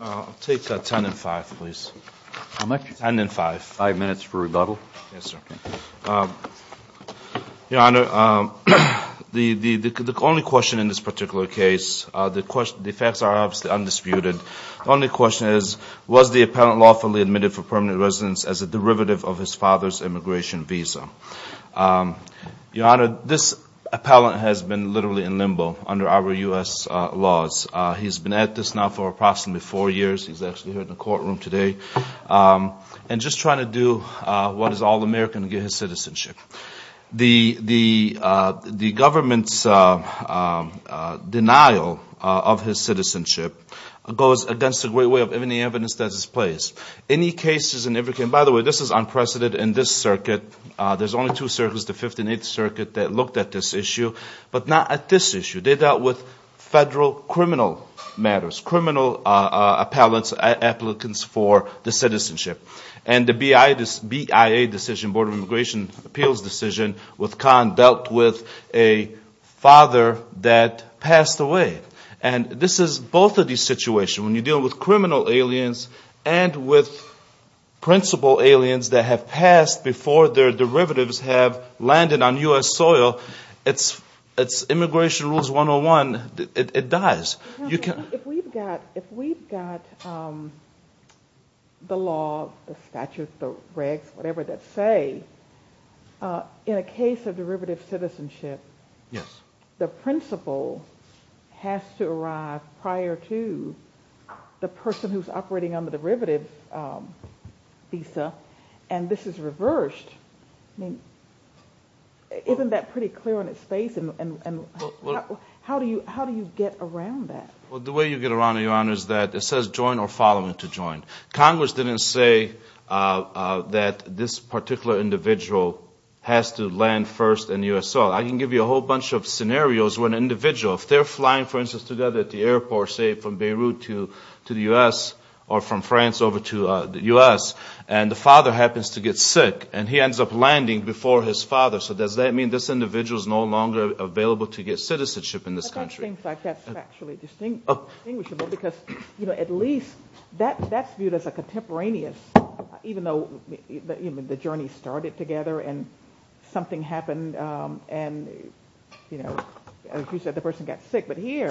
I'll take ten and five, please. Ten and five. Five minutes for rebuttal. Yes, sir. Your Honor, the only question in this particular case, the facts are obviously undisputed, the only question is, was the appellant lawfully admitted for permanent residence as a derivative of his father's immigration visa? Your Honor, this appellant has been literally in limbo under our U.S. laws. He's been at this now for approximately four years. He's actually here in the courtroom today, and just trying to do what is all American to get his citizenship. The government's denial of his citizenship goes against the great way of any evidence that is placed. Any cases, and by the way, this is unprecedented in this circuit. There's only two circuits, the Fifth and Eighth Circuit, that looked at this issue, but not at this issue. They dealt with federal criminal matters, criminal appellants, applicants for the citizenship. And the BIA decision, Board of Immigration Appeals decision, with Khan, dealt with a father that passed away. If we've got the law, the statutes, the regs, whatever, that say, in a case of derivative citizenship, the principal has to be admitted as a derivative. He has to arrive prior to the person who's operating on the derivative visa, and this is reversed. I mean, isn't that pretty clear on its face, and how do you get around that? say, from Beirut to the U.S., or from France over to the U.S., and the father happens to get sick, and he ends up landing before his father. So does that mean this individual is no longer available to get citizenship in this country? It seems like that's factually distinguishable, because, you know, at least that's viewed as a contemporaneous, even though, you know, the journey started together, and something happened, and, you know, as you said, the person got sick. But here,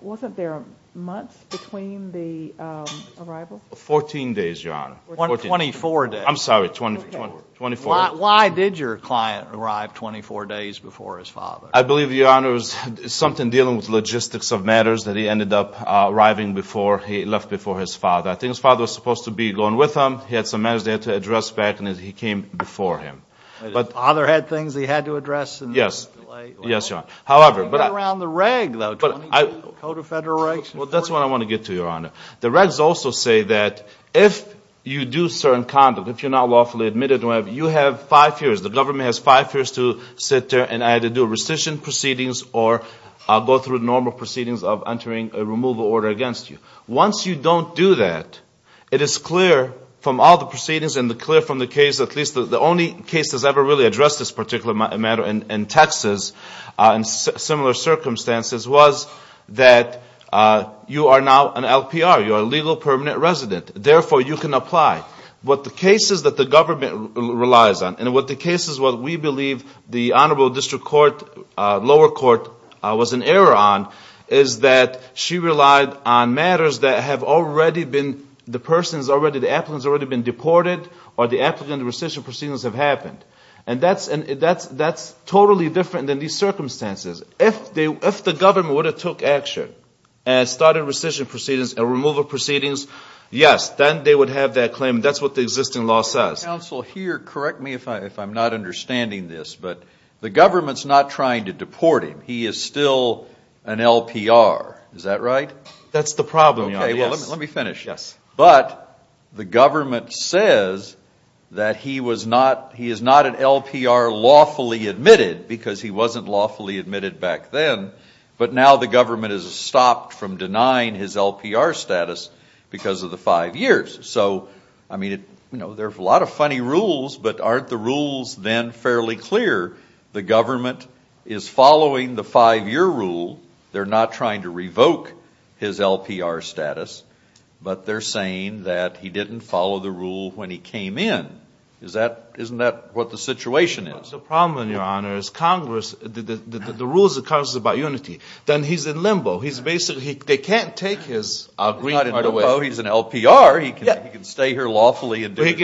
wasn't there months between the arrival? Fourteen days, Your Honor. 24 days. I'm sorry, 24 days. Why did your client arrive 24 days before his father? I believe, Your Honor, it was something dealing with logistics of matters that he ended up arriving before he left before his father. I think his father was supposed to be going with him. He had some matters he had to address back, and he came before him. But his father had things he had to address? Yes. Yes, Your Honor. How did he get around the reg, though? Code of Federal Rights? Well, that's what I want to get to, Your Honor. The regs also say that if you do certain conduct, if you're not lawfully admitted, you have five years. The government has five years to sit there and either do rescission proceedings or go through normal proceedings of entering a removal order against you. Once you don't do that, it is clear from all the proceedings and clear from the case, at least the only case that's ever really addressed this particular matter in Texas in similar circumstances, was that you are now an LPR. You are a legal permanent resident. Therefore, you can apply. But the cases that the government relies on and the cases that we believe the Honorable District Court, lower court, was in error on is that she relied on matters that have already been, the person's already, the applicant's already been deported or the applicant's rescission proceedings have happened. And that's totally different than these circumstances. If the government would have took action and started rescission proceedings and removal proceedings, yes, then they would have that claim. That's what the existing law says. Counsel, here, correct me if I'm not understanding this, but the government's not trying to deport him. He is still an LPR. Is that right? That's the problem, Your Honor. Yes. Let me finish. Yes. But the government says that he was not, he is not an LPR lawfully admitted because he wasn't lawfully admitted back then, but now the government has stopped from denying his LPR status because of the five years. So, I mean, you know, there's a lot of funny rules, but aren't the rules then fairly clear? The government is following the five-year rule. They're not trying to revoke his LPR status, but they're saying that he didn't follow the rule when he came in. Isn't that what the situation is? That's the problem, Your Honor, is Congress, the rules of Congress about unity. Then he's in limbo. He's basically, they can't take his green card away. He's not in limbo. He's an LPR. He can stay here lawfully. But,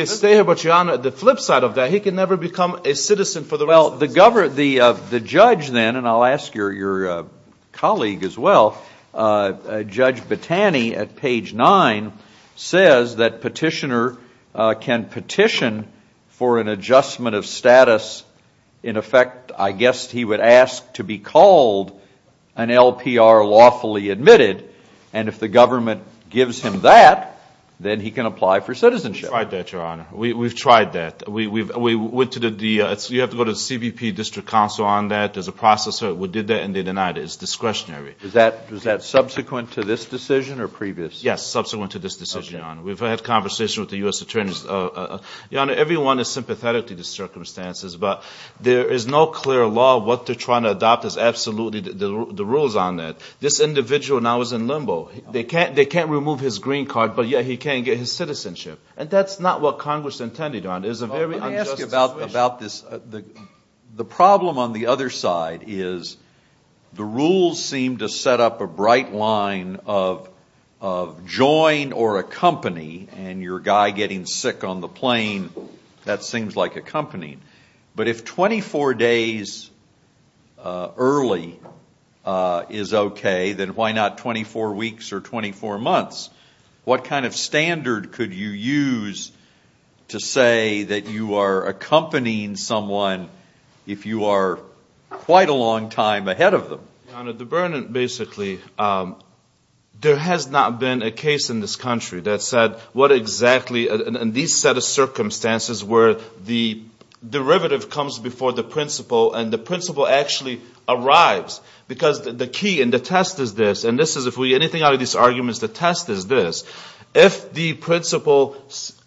Your Honor, the flip side of that, he can never become a citizen for the rest of his life. Well, the judge then, and I'll ask your colleague as well, Judge Battani at page nine says that petitioner can petition for an adjustment of status. In effect, I guess he would ask to be called an LPR lawfully admitted, and if the government gives him that, then he can apply for citizenship. We've tried that, Your Honor. We've tried that. You have to go to the CBP district council on that. There's a process. We did that, and they denied it. It's discretionary. Was that subsequent to this decision or previous? Yes, subsequent to this decision, Your Honor. We've had conversations with the U.S. attorneys. Your Honor, everyone is sympathetic to the circumstances, but there is no clear law. What they're trying to adopt is absolutely the rules on that. This individual now is in limbo. They can't remove his green card, but yet he can get his citizenship. And that's not what Congress intended, Your Honor. then why not 24 weeks or 24 months? What kind of standard could you use to say that you are accompanying someone if you are quite a long time ahead of them? Your Honor, the burden, basically, there has not been a case in this country that said what exactly, in these set of circumstances, where the derivative comes before the principle, and the principle actually arrives, because the key and the test is this, and this is, if we get anything out of these arguments, the test is this, if the principle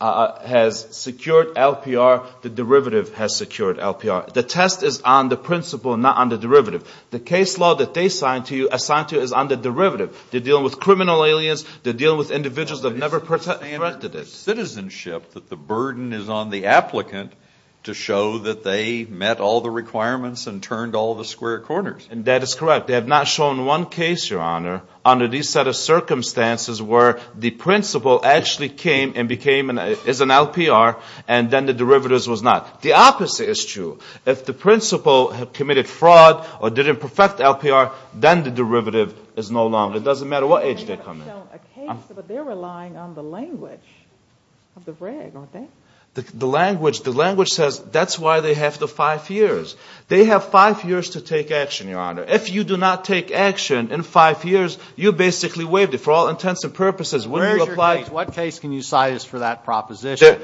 has secured LPR, the derivative has secured LPR. The test is on the principle, not on the derivative. The case law that they assigned to you is on the derivative. They're dealing with criminal aliens. They're dealing with individuals that have never protected it. Citizenship, that the burden is on the applicant to show that they met all the requirements and turned all the square corners. And that is correct. They have not shown one case, Your Honor, under these set of circumstances where the principle actually came and became an LPR, and then the derivatives was not. The opposite is true. If the principle committed fraud or didn't perfect LPR, then the derivative is no longer. It doesn't matter what age they come in. But they're relying on the language of the reg, aren't they? The language says that's why they have the five years. They have five years to take action, Your Honor. If you do not take action in five years, you basically waived it for all intents and purposes. Where is your case? What case can you cite as for that proposition?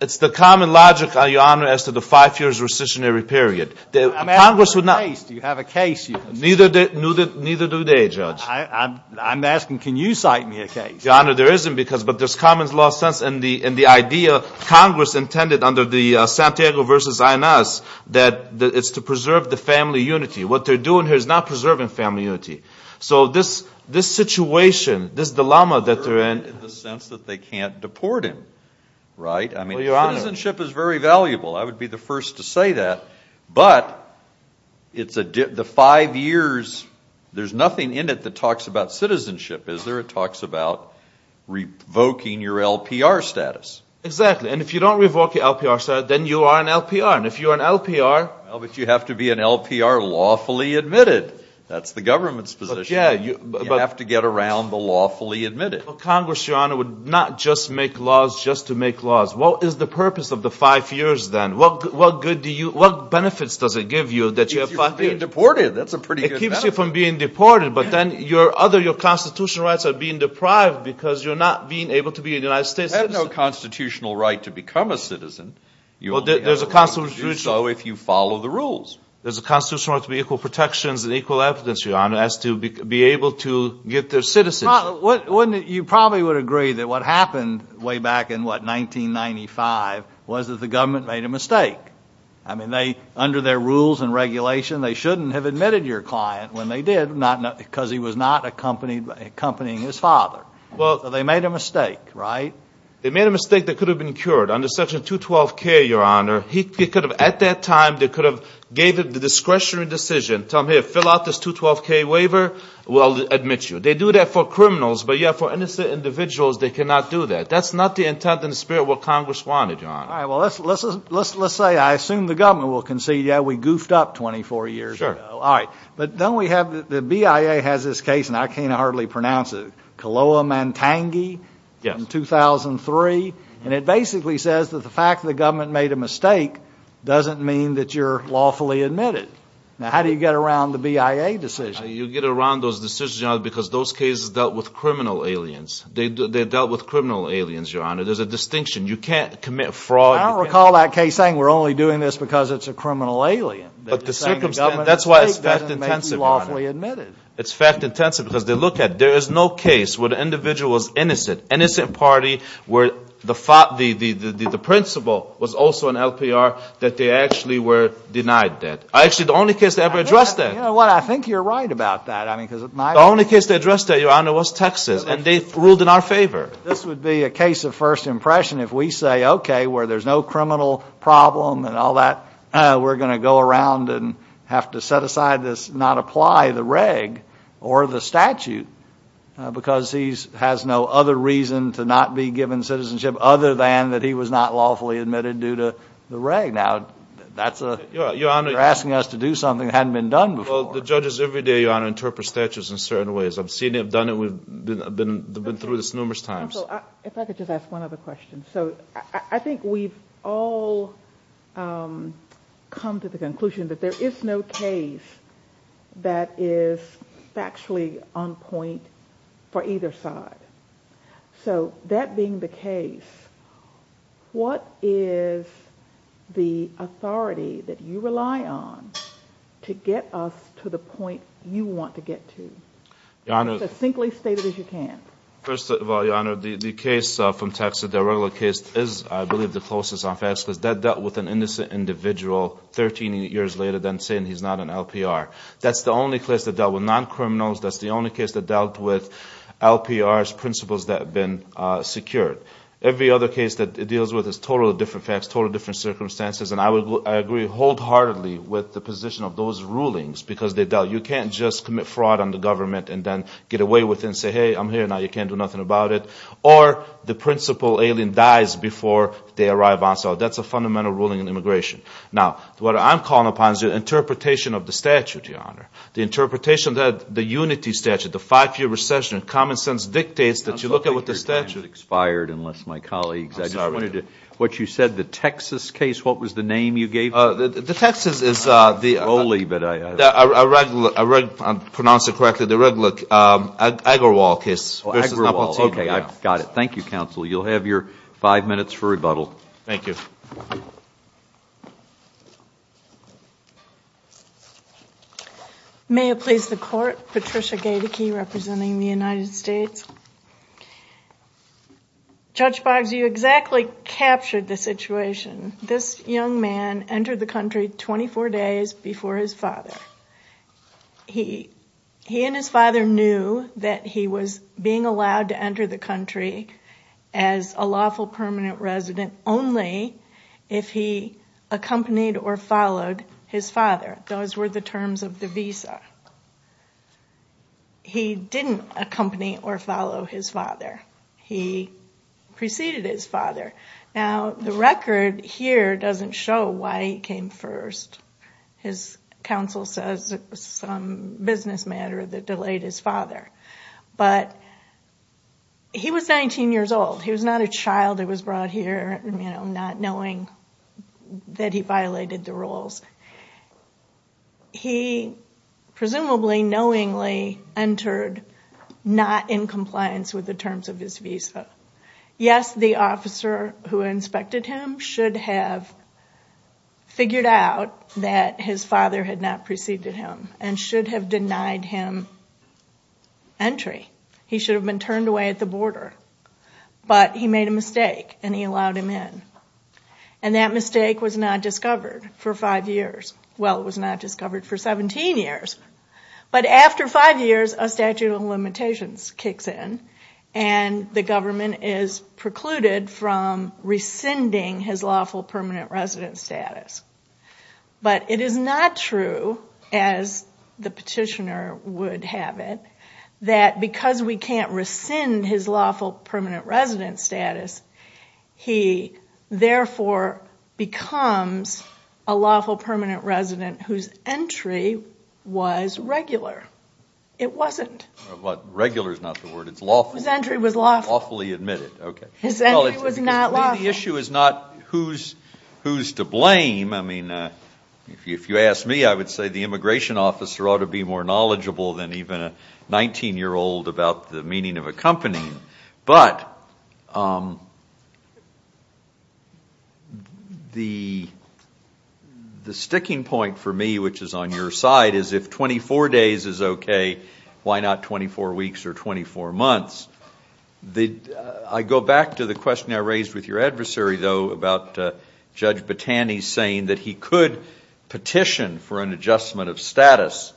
It's the common logic, Your Honor, as to the five years' rescissionary period. I'm asking for a case. Do you have a case? Neither do they, Judge. I'm asking, can you cite me a case? Your Honor, there isn't. But there's common law sense in the idea Congress intended under the Santiago v. INS, that it's to preserve the family unity. What they're doing here is not preserving family unity. So this situation, this dilemma that they're in in the sense that they can't deport him, right? I mean, citizenship is very valuable. I would be the first to say that. But the five years, there's nothing in it that talks about citizenship, is there? It talks about revoking your LPR status. Exactly. And if you don't revoke your LPR status, then you are an LPR. And if you're an LPR Well, but you have to be an LPR lawfully admitted. That's the government's position. You have to get around the lawfully admitted. Congress, Your Honor, would not just make laws just to make laws. What is the purpose of the five years, then? What benefits does it give you that you have five years? If you're being deported, that's a pretty good benefit. It keeps you from being deported, but then your constitutional rights are being deprived because you're not being able to be a United States citizen. You have no constitutional right to become a citizen. There's a constitutional right to be equal protections and equal evidence, Your Honor, as to be able to get their citizenship. You probably would agree that what happened way back in, what, 1995, was that the government made a mistake. I mean, under their rules and regulation, they shouldn't have admitted your client when they did, because he was not accompanying his father. Well, they made a mistake, right? They made a mistake that could have been cured under Section 212K, Your Honor. At that time, they could have gave a discretionary decision. Tell them, here, fill out this 212K waiver, we'll admit you. They do that for criminals, but, yeah, for innocent individuals, they cannot do that. That's not the intent and spirit of what Congress wanted, Your Honor. All right. Well, let's say I assume the government will concede, yeah, we goofed up 24 years ago. Sure. All right. But then we have the BIA has this case, and I can't hardly pronounce it, Koloa-Mantangi in 2003. And it basically says that the fact that the government made a mistake doesn't mean that you're lawfully admitted. Now, how do you get around the BIA decision? You get around those decisions, Your Honor, because those cases dealt with criminal aliens. They dealt with criminal aliens, Your Honor. There's a distinction. You can't commit fraud. I don't recall that case saying we're only doing this because it's a criminal alien. That's why it's fact-intensive, Your Honor. It's fact-intensive because they look at it. There is no case where the individual was innocent, innocent party, where the principle was also an LPR, that they actually were denied that. Actually, the only case they ever addressed that. You know what, I think you're right about that. The only case they addressed that, Your Honor, was Texas, and they ruled in our favor. This would be a case of first impression if we say, okay, where there's no criminal problem and all that, we're going to go around and have to set aside this, not apply the reg or the statute, because he has no other reason to not be given citizenship other than that he was not lawfully admitted due to the reg. You're asking us to do something that hadn't been done before. Well, the judges every day, Your Honor, interpret statutes in certain ways. I've seen them done it. We've been through this numerous times. Counsel, if I could just ask one other question. So I think we've all come to the conclusion that there is no case that is factually on point for either side. So that being the case, what is the authority that you rely on to get us to the point you want to get to? Your Honor. As succinctly stated as you can. First of all, Your Honor, the case from Texas, the regular case, is, I believe, the closest on facts, because that dealt with an innocent individual 13 years later than saying he's not an LPR. That's the only case that dealt with non-criminals. That's the only case that dealt with LPRs, principals that have been secured. Every other case that it deals with is totally different facts, totally different circumstances. And I agree wholeheartedly with the position of those rulings, because you can't just commit fraud on the government and then get away with it and say, hey, I'm here now. You can't do nothing about it. Or the principal alien dies before they arrive on. So that's a fundamental ruling in immigration. The interpretation that the unity statute, the five-year recession, common sense dictates that you look at what the statute. It sounds like your time has expired, unless my colleagues. I'm sorry. I just wanted to, what you said, the Texas case, what was the name you gave it? The Texas is the regular, if I'm pronouncing it correctly, the regular Agarwal case. Oh, Agarwal. Okay, I've got it. Thank you, counsel. You'll have your five minutes for rebuttal. Thank you. Thank you. May it please the court. Patricia Gaedeke representing the United States. Judge Boggs, you exactly captured the situation. This young man entered the country 24 days before his father. He and his father knew that he was being allowed to enter the country as a lawful permanent resident only if he accompanied or followed his father. Those were the terms of the visa. He didn't accompany or follow his father. He preceded his father. Now, the record here doesn't show why he came first. His counsel says it was some business matter that delayed his father. But he was 19 years old. He was not a child that was brought here not knowing that he violated the rules. He presumably knowingly entered not in compliance with the terms of his visa. Yes, the officer who inspected him should have figured out that his father had not preceded him and should have denied him entry. He should have been turned away at the border. But he made a mistake and he allowed him in. And that mistake was not discovered for five years. Well, it was not discovered for 17 years. But after five years, a statute of limitations kicks in and the government is precluded from rescinding his lawful permanent resident status. But it is not true, as the petitioner would have it, that because we can't rescind his lawful permanent resident status, he therefore becomes a lawful permanent resident whose entry was regular. It wasn't. Regular is not the word. It's lawful. His entry was lawful. Lawfully admitted. His entry was not lawful. The issue is not who's to blame. I mean, if you ask me, I would say the immigration officer ought to be more knowledgeable than even a 19-year-old about the meaning of accompanying. But the sticking point for me, which is on your side, is if 24 days is okay, why not 24 weeks or 24 months? I go back to the question I raised with your adversary, though, about Judge Battani saying that he could petition for an adjustment of status.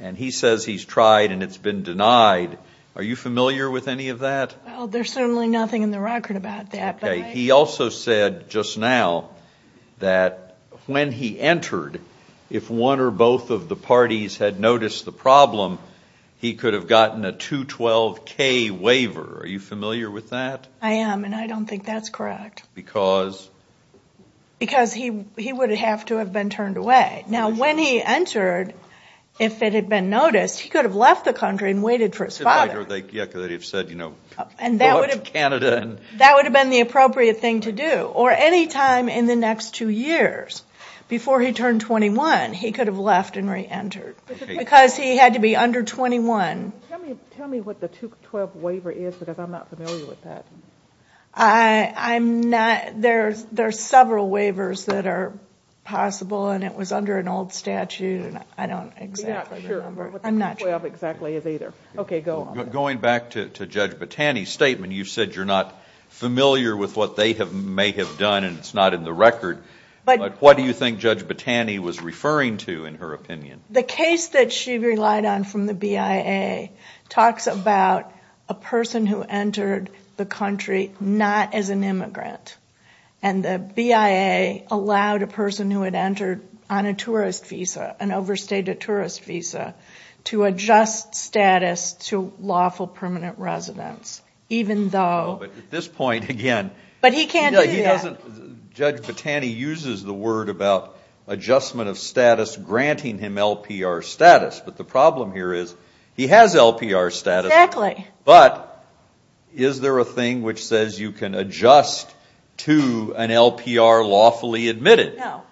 And he says he's tried and it's been denied. Are you familiar with any of that? Well, there's certainly nothing in the record about that. Okay. He also said just now that when he entered, if one or both of the parties had noticed the problem, he could have gotten a 212-K waiver. Are you familiar with that? I am, and I don't think that's correct. Because? Because he would have to have been turned away. Right. Now, when he entered, if it had been noticed, he could have left the country and waited for his father. Yeah, because they would have said, you know, go up to Canada. That would have been the appropriate thing to do. Or any time in the next two years, before he turned 21, he could have left and reentered. Because he had to be under 21. Tell me what the 212 waiver is, because I'm not familiar with that. I'm not. There are several waivers that are possible, and it was under an old statute, and I don't exactly remember. I'm not sure what the 212 exactly is either. Okay, go on. Going back to Judge Battani's statement, you said you're not familiar with what they may have done, and it's not in the record. But what do you think Judge Battani was referring to in her opinion? The case that she relied on from the BIA talks about a person who entered the country not as an immigrant. And the BIA allowed a person who had entered on a tourist visa, an overstated tourist visa, to adjust status to lawful permanent residence, even though – At this point, again – But he can't do that. Judge Battani uses the word about adjustment of status granting him LPR status. But the problem here is he has LPR status. Exactly. But is there a thing which says you can adjust to an LPR lawfully admitted? No.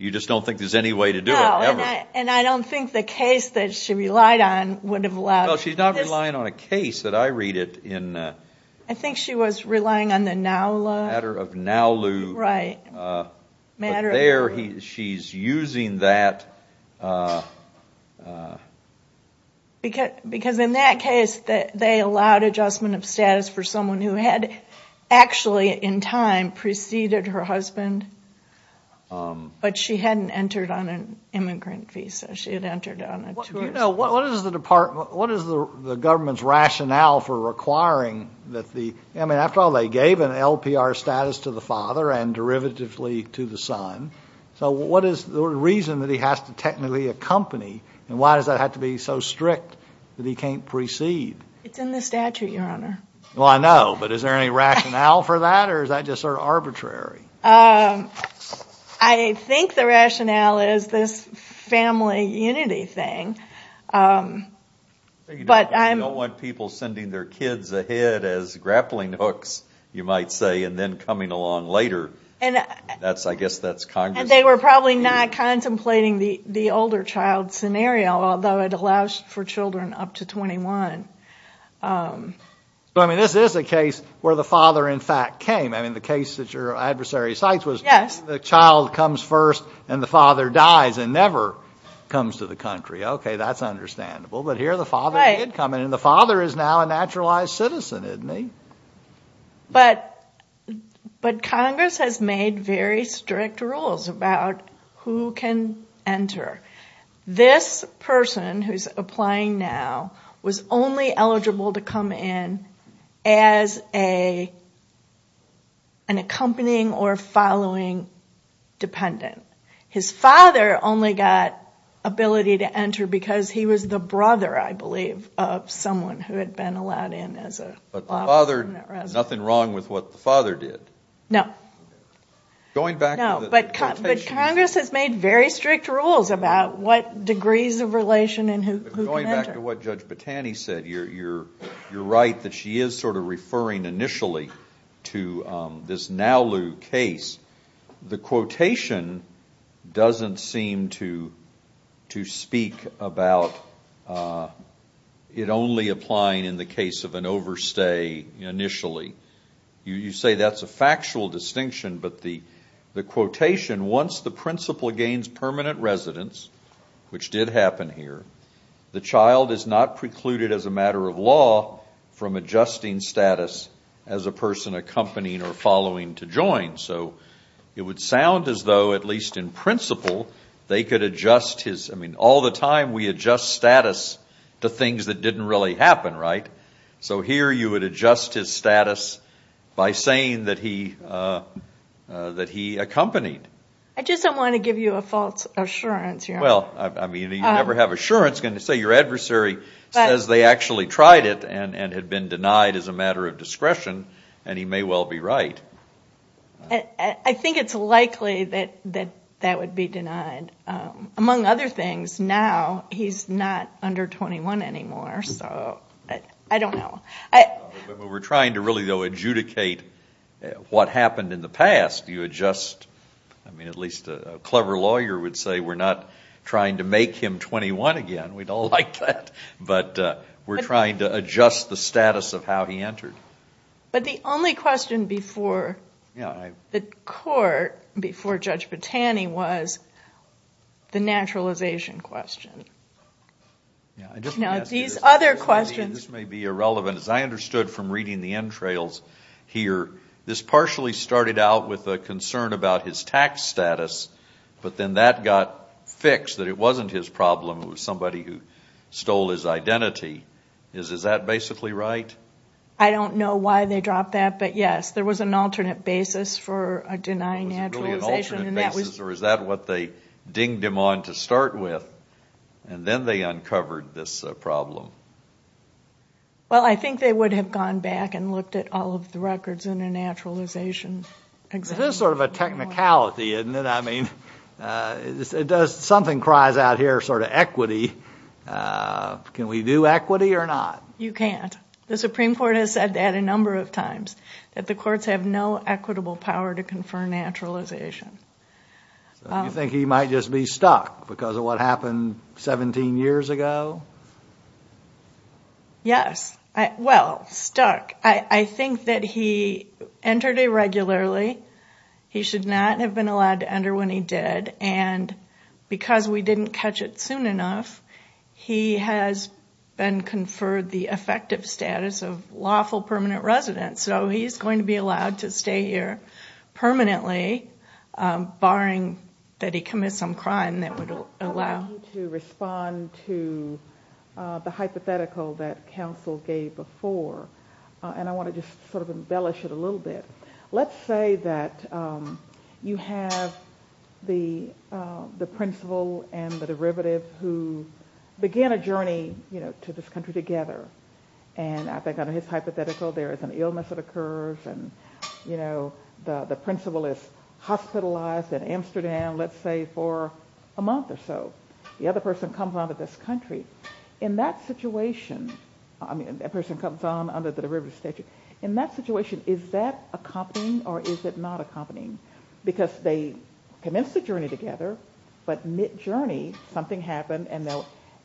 You just don't think there's any way to do it? No. Ever? And I don't think the case that she relied on would have allowed – Well, she's not relying on a case that I read in – I think she was relying on the NOW law. The matter of NOW law. Right. But there, she's using that – Because in that case, they allowed adjustment of status for someone who had actually in time preceded her husband, but she hadn't entered on an immigrant visa. She had entered on a tourist visa. What is the government's rationale for requiring that the – I mean, after all, they gave an LPR status to the father and derivatively to the son. So what is the reason that he has to technically accompany, and why does that have to be so strict that he can't precede? It's in the statute, Your Honor. Well, I know. But is there any rationale for that, or is that just sort of arbitrary? I think the rationale is this family unity thing. You don't want people sending their kids ahead as grappling hooks, you might say, and then coming along later. I guess that's Congress. And they were probably not contemplating the older child scenario, although it allows for children up to 21. So, I mean, this is a case where the father, in fact, came. I mean, the case that your adversary cites was the child comes first and the father dies and never comes to the country. Okay, that's understandable. But here the father did come, and the father is now a naturalized citizen, isn't he? But Congress has made very strict rules about who can enter. This person who's applying now was only eligible to come in as an accompanying or following dependent. His father only got ability to enter because he was the brother, I believe, of someone who had been allowed in as a lawful resident. But the father, nothing wrong with what the father did. No. Going back to the quotation. But Congress has made very strict rules about what degrees of relation and who can enter. But going back to what Judge Battani said, you're right that she is sort of referring initially to this Nalu case. The quotation doesn't seem to speak about it only applying in the case of an overstay initially. You say that's a factual distinction, but the quotation, once the principal gains permanent residence, which did happen here, the child is not precluded as a matter of law from adjusting status as a person accompanying or following to join. So it would sound as though, at least in principle, they could adjust his... I mean, all the time we adjust status to things that didn't really happen, right? So here you would adjust his status by saying that he accompanied. I just don't want to give you a false assurance here. Well, I mean, you never have assurance. Say your adversary says they actually tried it and had been denied as a matter of discretion, and he may well be right. I think it's likely that that would be denied. Among other things, now he's not under 21 anymore, so I don't know. We're trying to really, though, adjudicate what happened in the past. You adjust. I mean, at least a clever lawyer would say we're not trying to make him 21 again. We don't like that. But we're trying to adjust the status of how he entered. But the only question before the court, before Judge Bottani, was the naturalization question. These other questions. This may be irrelevant. As I understood from reading the entrails here, this partially started out with a concern about his tax status, but then that got fixed, that it wasn't his problem, it was somebody who stole his identity. Is that basically right? I don't know why they dropped that, but, yes, there was an alternate basis for denying naturalization. Or is that what they dinged him on to start with, and then they uncovered this problem? Well, I think they would have gone back and looked at all of the records in a naturalization example. This is sort of a technicality, isn't it? Something cries out here, sort of equity. Can we do equity or not? You can't. The Supreme Court has said that a number of times, that the courts have no equitable power to confer naturalization. You think he might just be stuck because of what happened 17 years ago? Yes. Well, stuck. I think that he entered irregularly. He should not have been allowed to enter when he did, and because we didn't catch it soon enough, he has been conferred the effective status of lawful permanent resident, so he's going to be allowed to stay here permanently, barring that he commit some crime that would allow him to. I want you to respond to the hypothetical that counsel gave before, and I want to just sort of embellish it a little bit. Let's say that you have the principal and the derivative who began a journey to this country together, and I think under his hypothetical there is an illness that occurs, and the principal is hospitalized in Amsterdam, let's say, for a month or so. The other person comes on to this country. In that situation, I mean, that person comes on under the derivative statute. In that situation, is that accompanying or is it not accompanying? Because they commence the journey together, but mid-journey something happened, and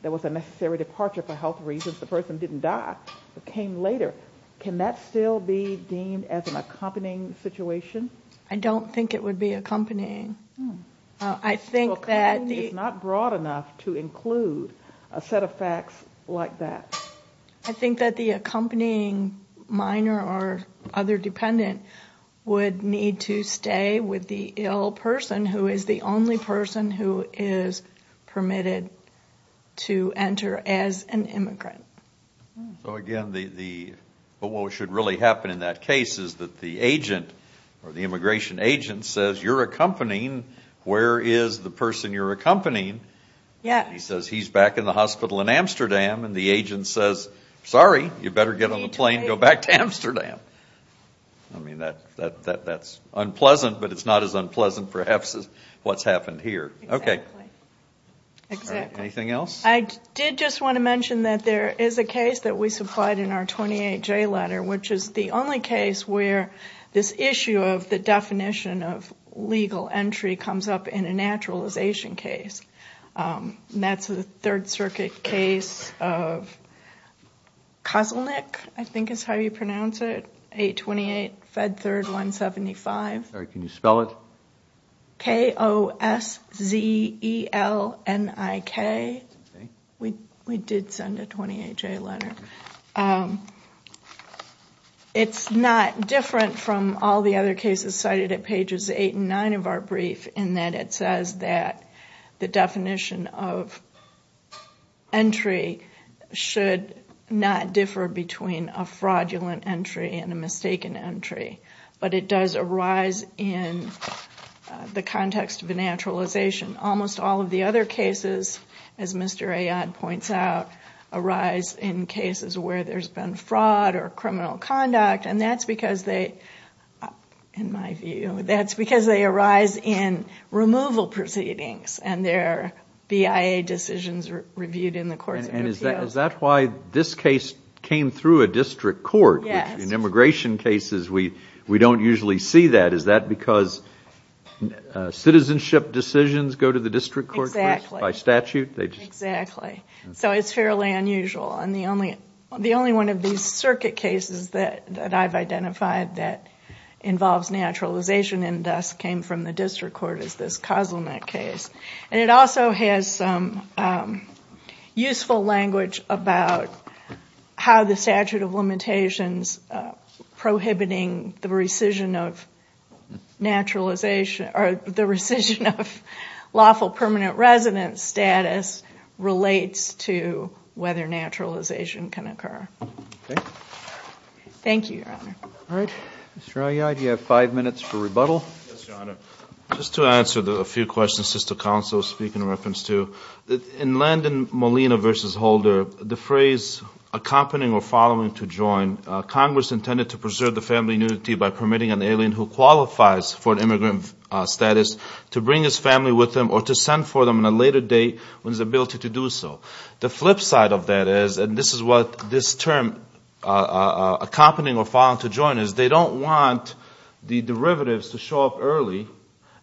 there was a necessary departure for health reasons. The person didn't die, but came later. Can that still be deemed as an accompanying situation? I don't think it would be accompanying. I think that the- It's not broad enough to include a set of facts like that. I think that the accompanying minor or other dependent would need to stay with the ill person who is the only person who is permitted to enter as an immigrant. Again, what should really happen in that case is that the agent or the immigration agent says, you're accompanying, where is the person you're accompanying? He says, he's back in the hospital in Amsterdam, and the agent says, sorry, you better get on the plane and go back to Amsterdam. I mean, that's unpleasant, but it's not as unpleasant perhaps as what's happened here. Exactly. Anything else? I did just want to mention that there is a case that we supplied in our 28J letter, which is the only case where this issue of the definition of legal entry comes up in a naturalization case. That's a Third Circuit case of Kozelnik, I think is how you pronounce it, 828 Fed Third 175. Sorry, can you spell it? K-O-S-Z-E-L-N-I-K. We did send a 28J letter. It's not different from all the other cases cited at pages 8 and 9 of our brief in that it says that the definition of entry should not differ between a fraudulent entry and a mistaken entry, but it does arise in the context of a naturalization. Almost all of the other cases, as Mr. Ayotte points out, arise in cases where there's been fraud or criminal conduct, and that's because they, in my view, that's because they arise in removal proceedings and they're BIA decisions reviewed in the courts of appeals. And is that why this case came through a district court? Yes. In immigration cases, we don't usually see that. Is that because citizenship decisions go to the district court by statute? Exactly. So it's fairly unusual, and the only one of these circuit cases that I've identified that involves naturalization and thus came from the district court is this Kozelnick case. And it also has some useful language about how the statute of limitations prohibiting the rescission of naturalization or the rescission of lawful permanent residence status relates to whether naturalization can occur. Okay. Thank you, Your Honor. All right. Mr. Ayotte, you have five minutes for rebuttal. Yes, Your Honor. Just to answer a few questions just to counsel speak in reference to, in Landon Molina v. Holder, the phrase accompanying or following to join, Congress intended to preserve the family unity by permitting an alien who qualifies for an immigrant status to bring his family with him or to send for them on a later date when his ability to do so. The flip side of that is, and this is what this term accompanying or following to join is, they don't want the derivatives to show up early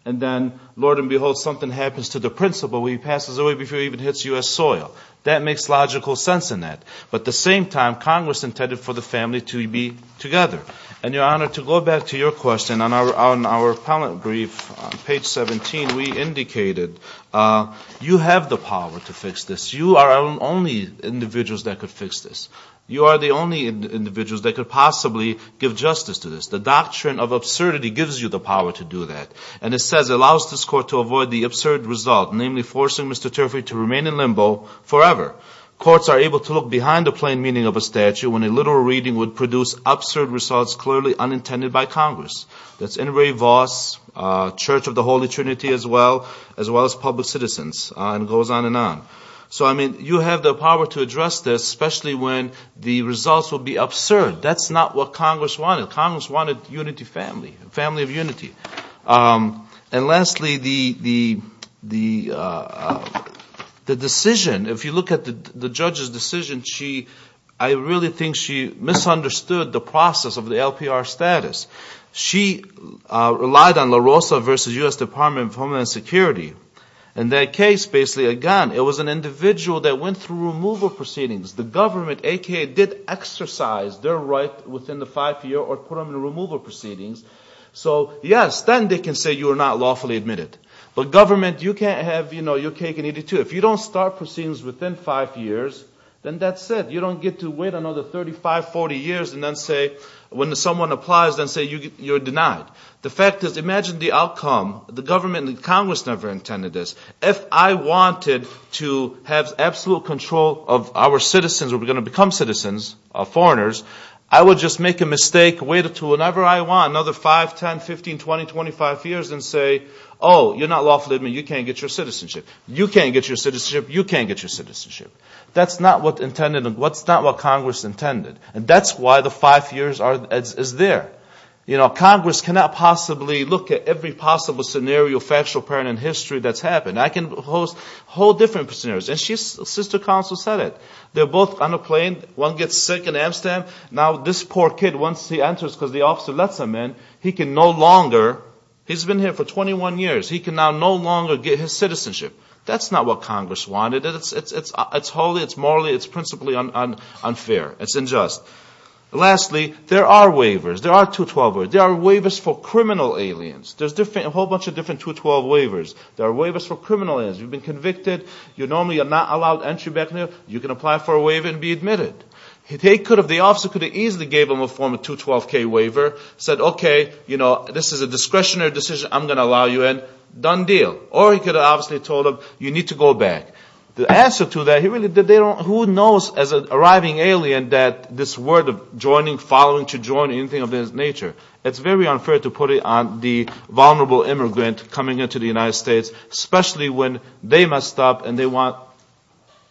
and then, Lord and behold, something happens to the principal, he passes away before he even hits U.S. soil. That makes logical sense in that. But at the same time, Congress intended for the family to be together. And, Your Honor, to go back to your question, on our appellate brief on page 17 we indicated you have the power to fix this. You are the only individuals that could fix this. You are the only individuals that could possibly give justice to this. The doctrine of absurdity gives you the power to do that. And it says it allows this court to avoid the absurd result, namely forcing Mr. Turfey to remain in limbo forever. Courts are able to look behind the plain meaning of a statute when a literal reading would produce absurd results clearly unintended by Congress. That's in Ray Voss, Church of the Holy Trinity as well, as well as public citizens, and it goes on and on. So, I mean, you have the power to address this, especially when the results will be absurd. That's not what Congress wanted. Congress wanted unity of family, family of unity. And lastly, the decision, if you look at the judge's decision, I really think she misunderstood the process of the LPR status. She relied on La Rosa versus U.S. Department of Homeland Security. In that case, basically, again, it was an individual that went through removal proceedings. The government, a.k.a., did exercise their right within the five-year or permanent removal proceedings. So, yes, then they can say you are not lawfully admitted. But government, you can't have your cake and eat it too. If you don't start proceedings within five years, then that's it. You don't get to wait another 35, 40 years and then say, when someone applies, then say you're denied. The fact is, imagine the outcome. The government and Congress never intended this. If I wanted to have absolute control of our citizens, we're going to become citizens, foreigners, I would just make a mistake, wait until whenever I want, another five, 10, 15, 20, 25 years, and say, oh, you're not lawfully admitted, you can't get your citizenship. You can't get your citizenship, you can't get your citizenship. That's not what Congress intended. And that's why the five years is there. Congress cannot possibly look at every possible scenario, factual, apparent in history that's happened. I can host whole different scenarios. And Sister Counsel said it. They're both on a plane, one gets sick in Amsterdam, now this poor kid, once he enters because the officer lets him in, he can no longer, he's been here for 21 years, he can now no longer get his citizenship. That's not what Congress wanted. It's holy, it's morally, it's principally unfair. It's unjust. Lastly, there are waivers. There are 212 waivers. There are waivers for criminal aliens. There's a whole bunch of different 212 waivers. There are waivers for criminal aliens. You've been convicted. You're normally not allowed entry back there. You can apply for a waiver and be admitted. They could have, the officer could have easily gave them a form of 212K waiver, said, okay, this is a discretionary decision, I'm going to allow you in, done deal. Or he could have obviously told them, you need to go back. The answer to that, who knows as an arriving alien that this word of joining, following to join, anything of that nature. It's very unfair to put it on the vulnerable immigrant coming into the United States, especially when they messed up and they want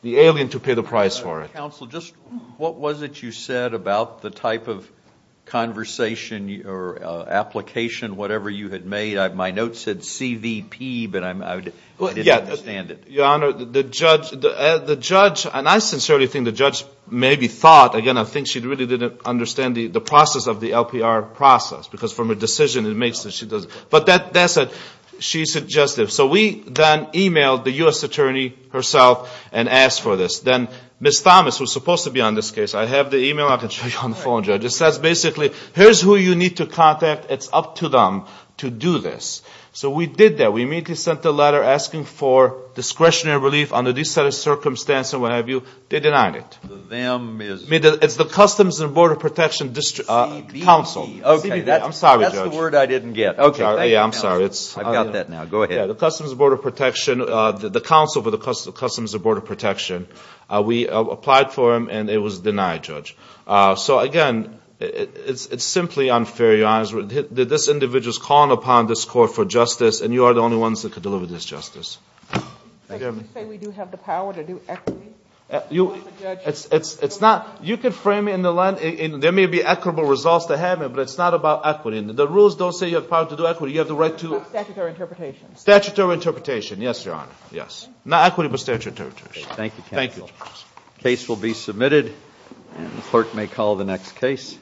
the alien to pay the price for it. Counsel, just what was it you said about the type of conversation or application, whatever you had made? My note said CVP, but I didn't understand it. Your Honor, the judge, and I sincerely think the judge maybe thought, again, I think she really didn't understand the process of the LPR process, because from a decision it makes that she doesn't. But that's what she suggested. So we then emailed the U.S. attorney herself and asked for this. Then Ms. Thomas, who is supposed to be on this case, I have the email. I can show you on the phone, Judge. It says basically, here's who you need to contact. It's up to them to do this. So we did that. We immediately sent a letter asking for discretionary relief under these set of circumstances, what have you. They denied it. It's the Customs and Border Protection Council. That's the word I didn't get. I'm sorry. I've got that now. Go ahead. The Customs and Border Protection, the council for the Customs and Border Protection, we applied for them and it was denied, Judge. So, again, it's simply unfair, Your Honor. This individual is calling upon this court for justice and you are the only ones that can deliver this justice. You say we do have the power to do equity? You can frame it in the line. There may be equitable results to have it, but it's not about equity. The rules don't say you have the power to do equity. You have the right to Statutory interpretation. Statutory interpretation. Yes, Your Honor. Yes. Not equity, but statutory interpretation. Thank you, counsel. Case will be submitted. The clerk may call the next case.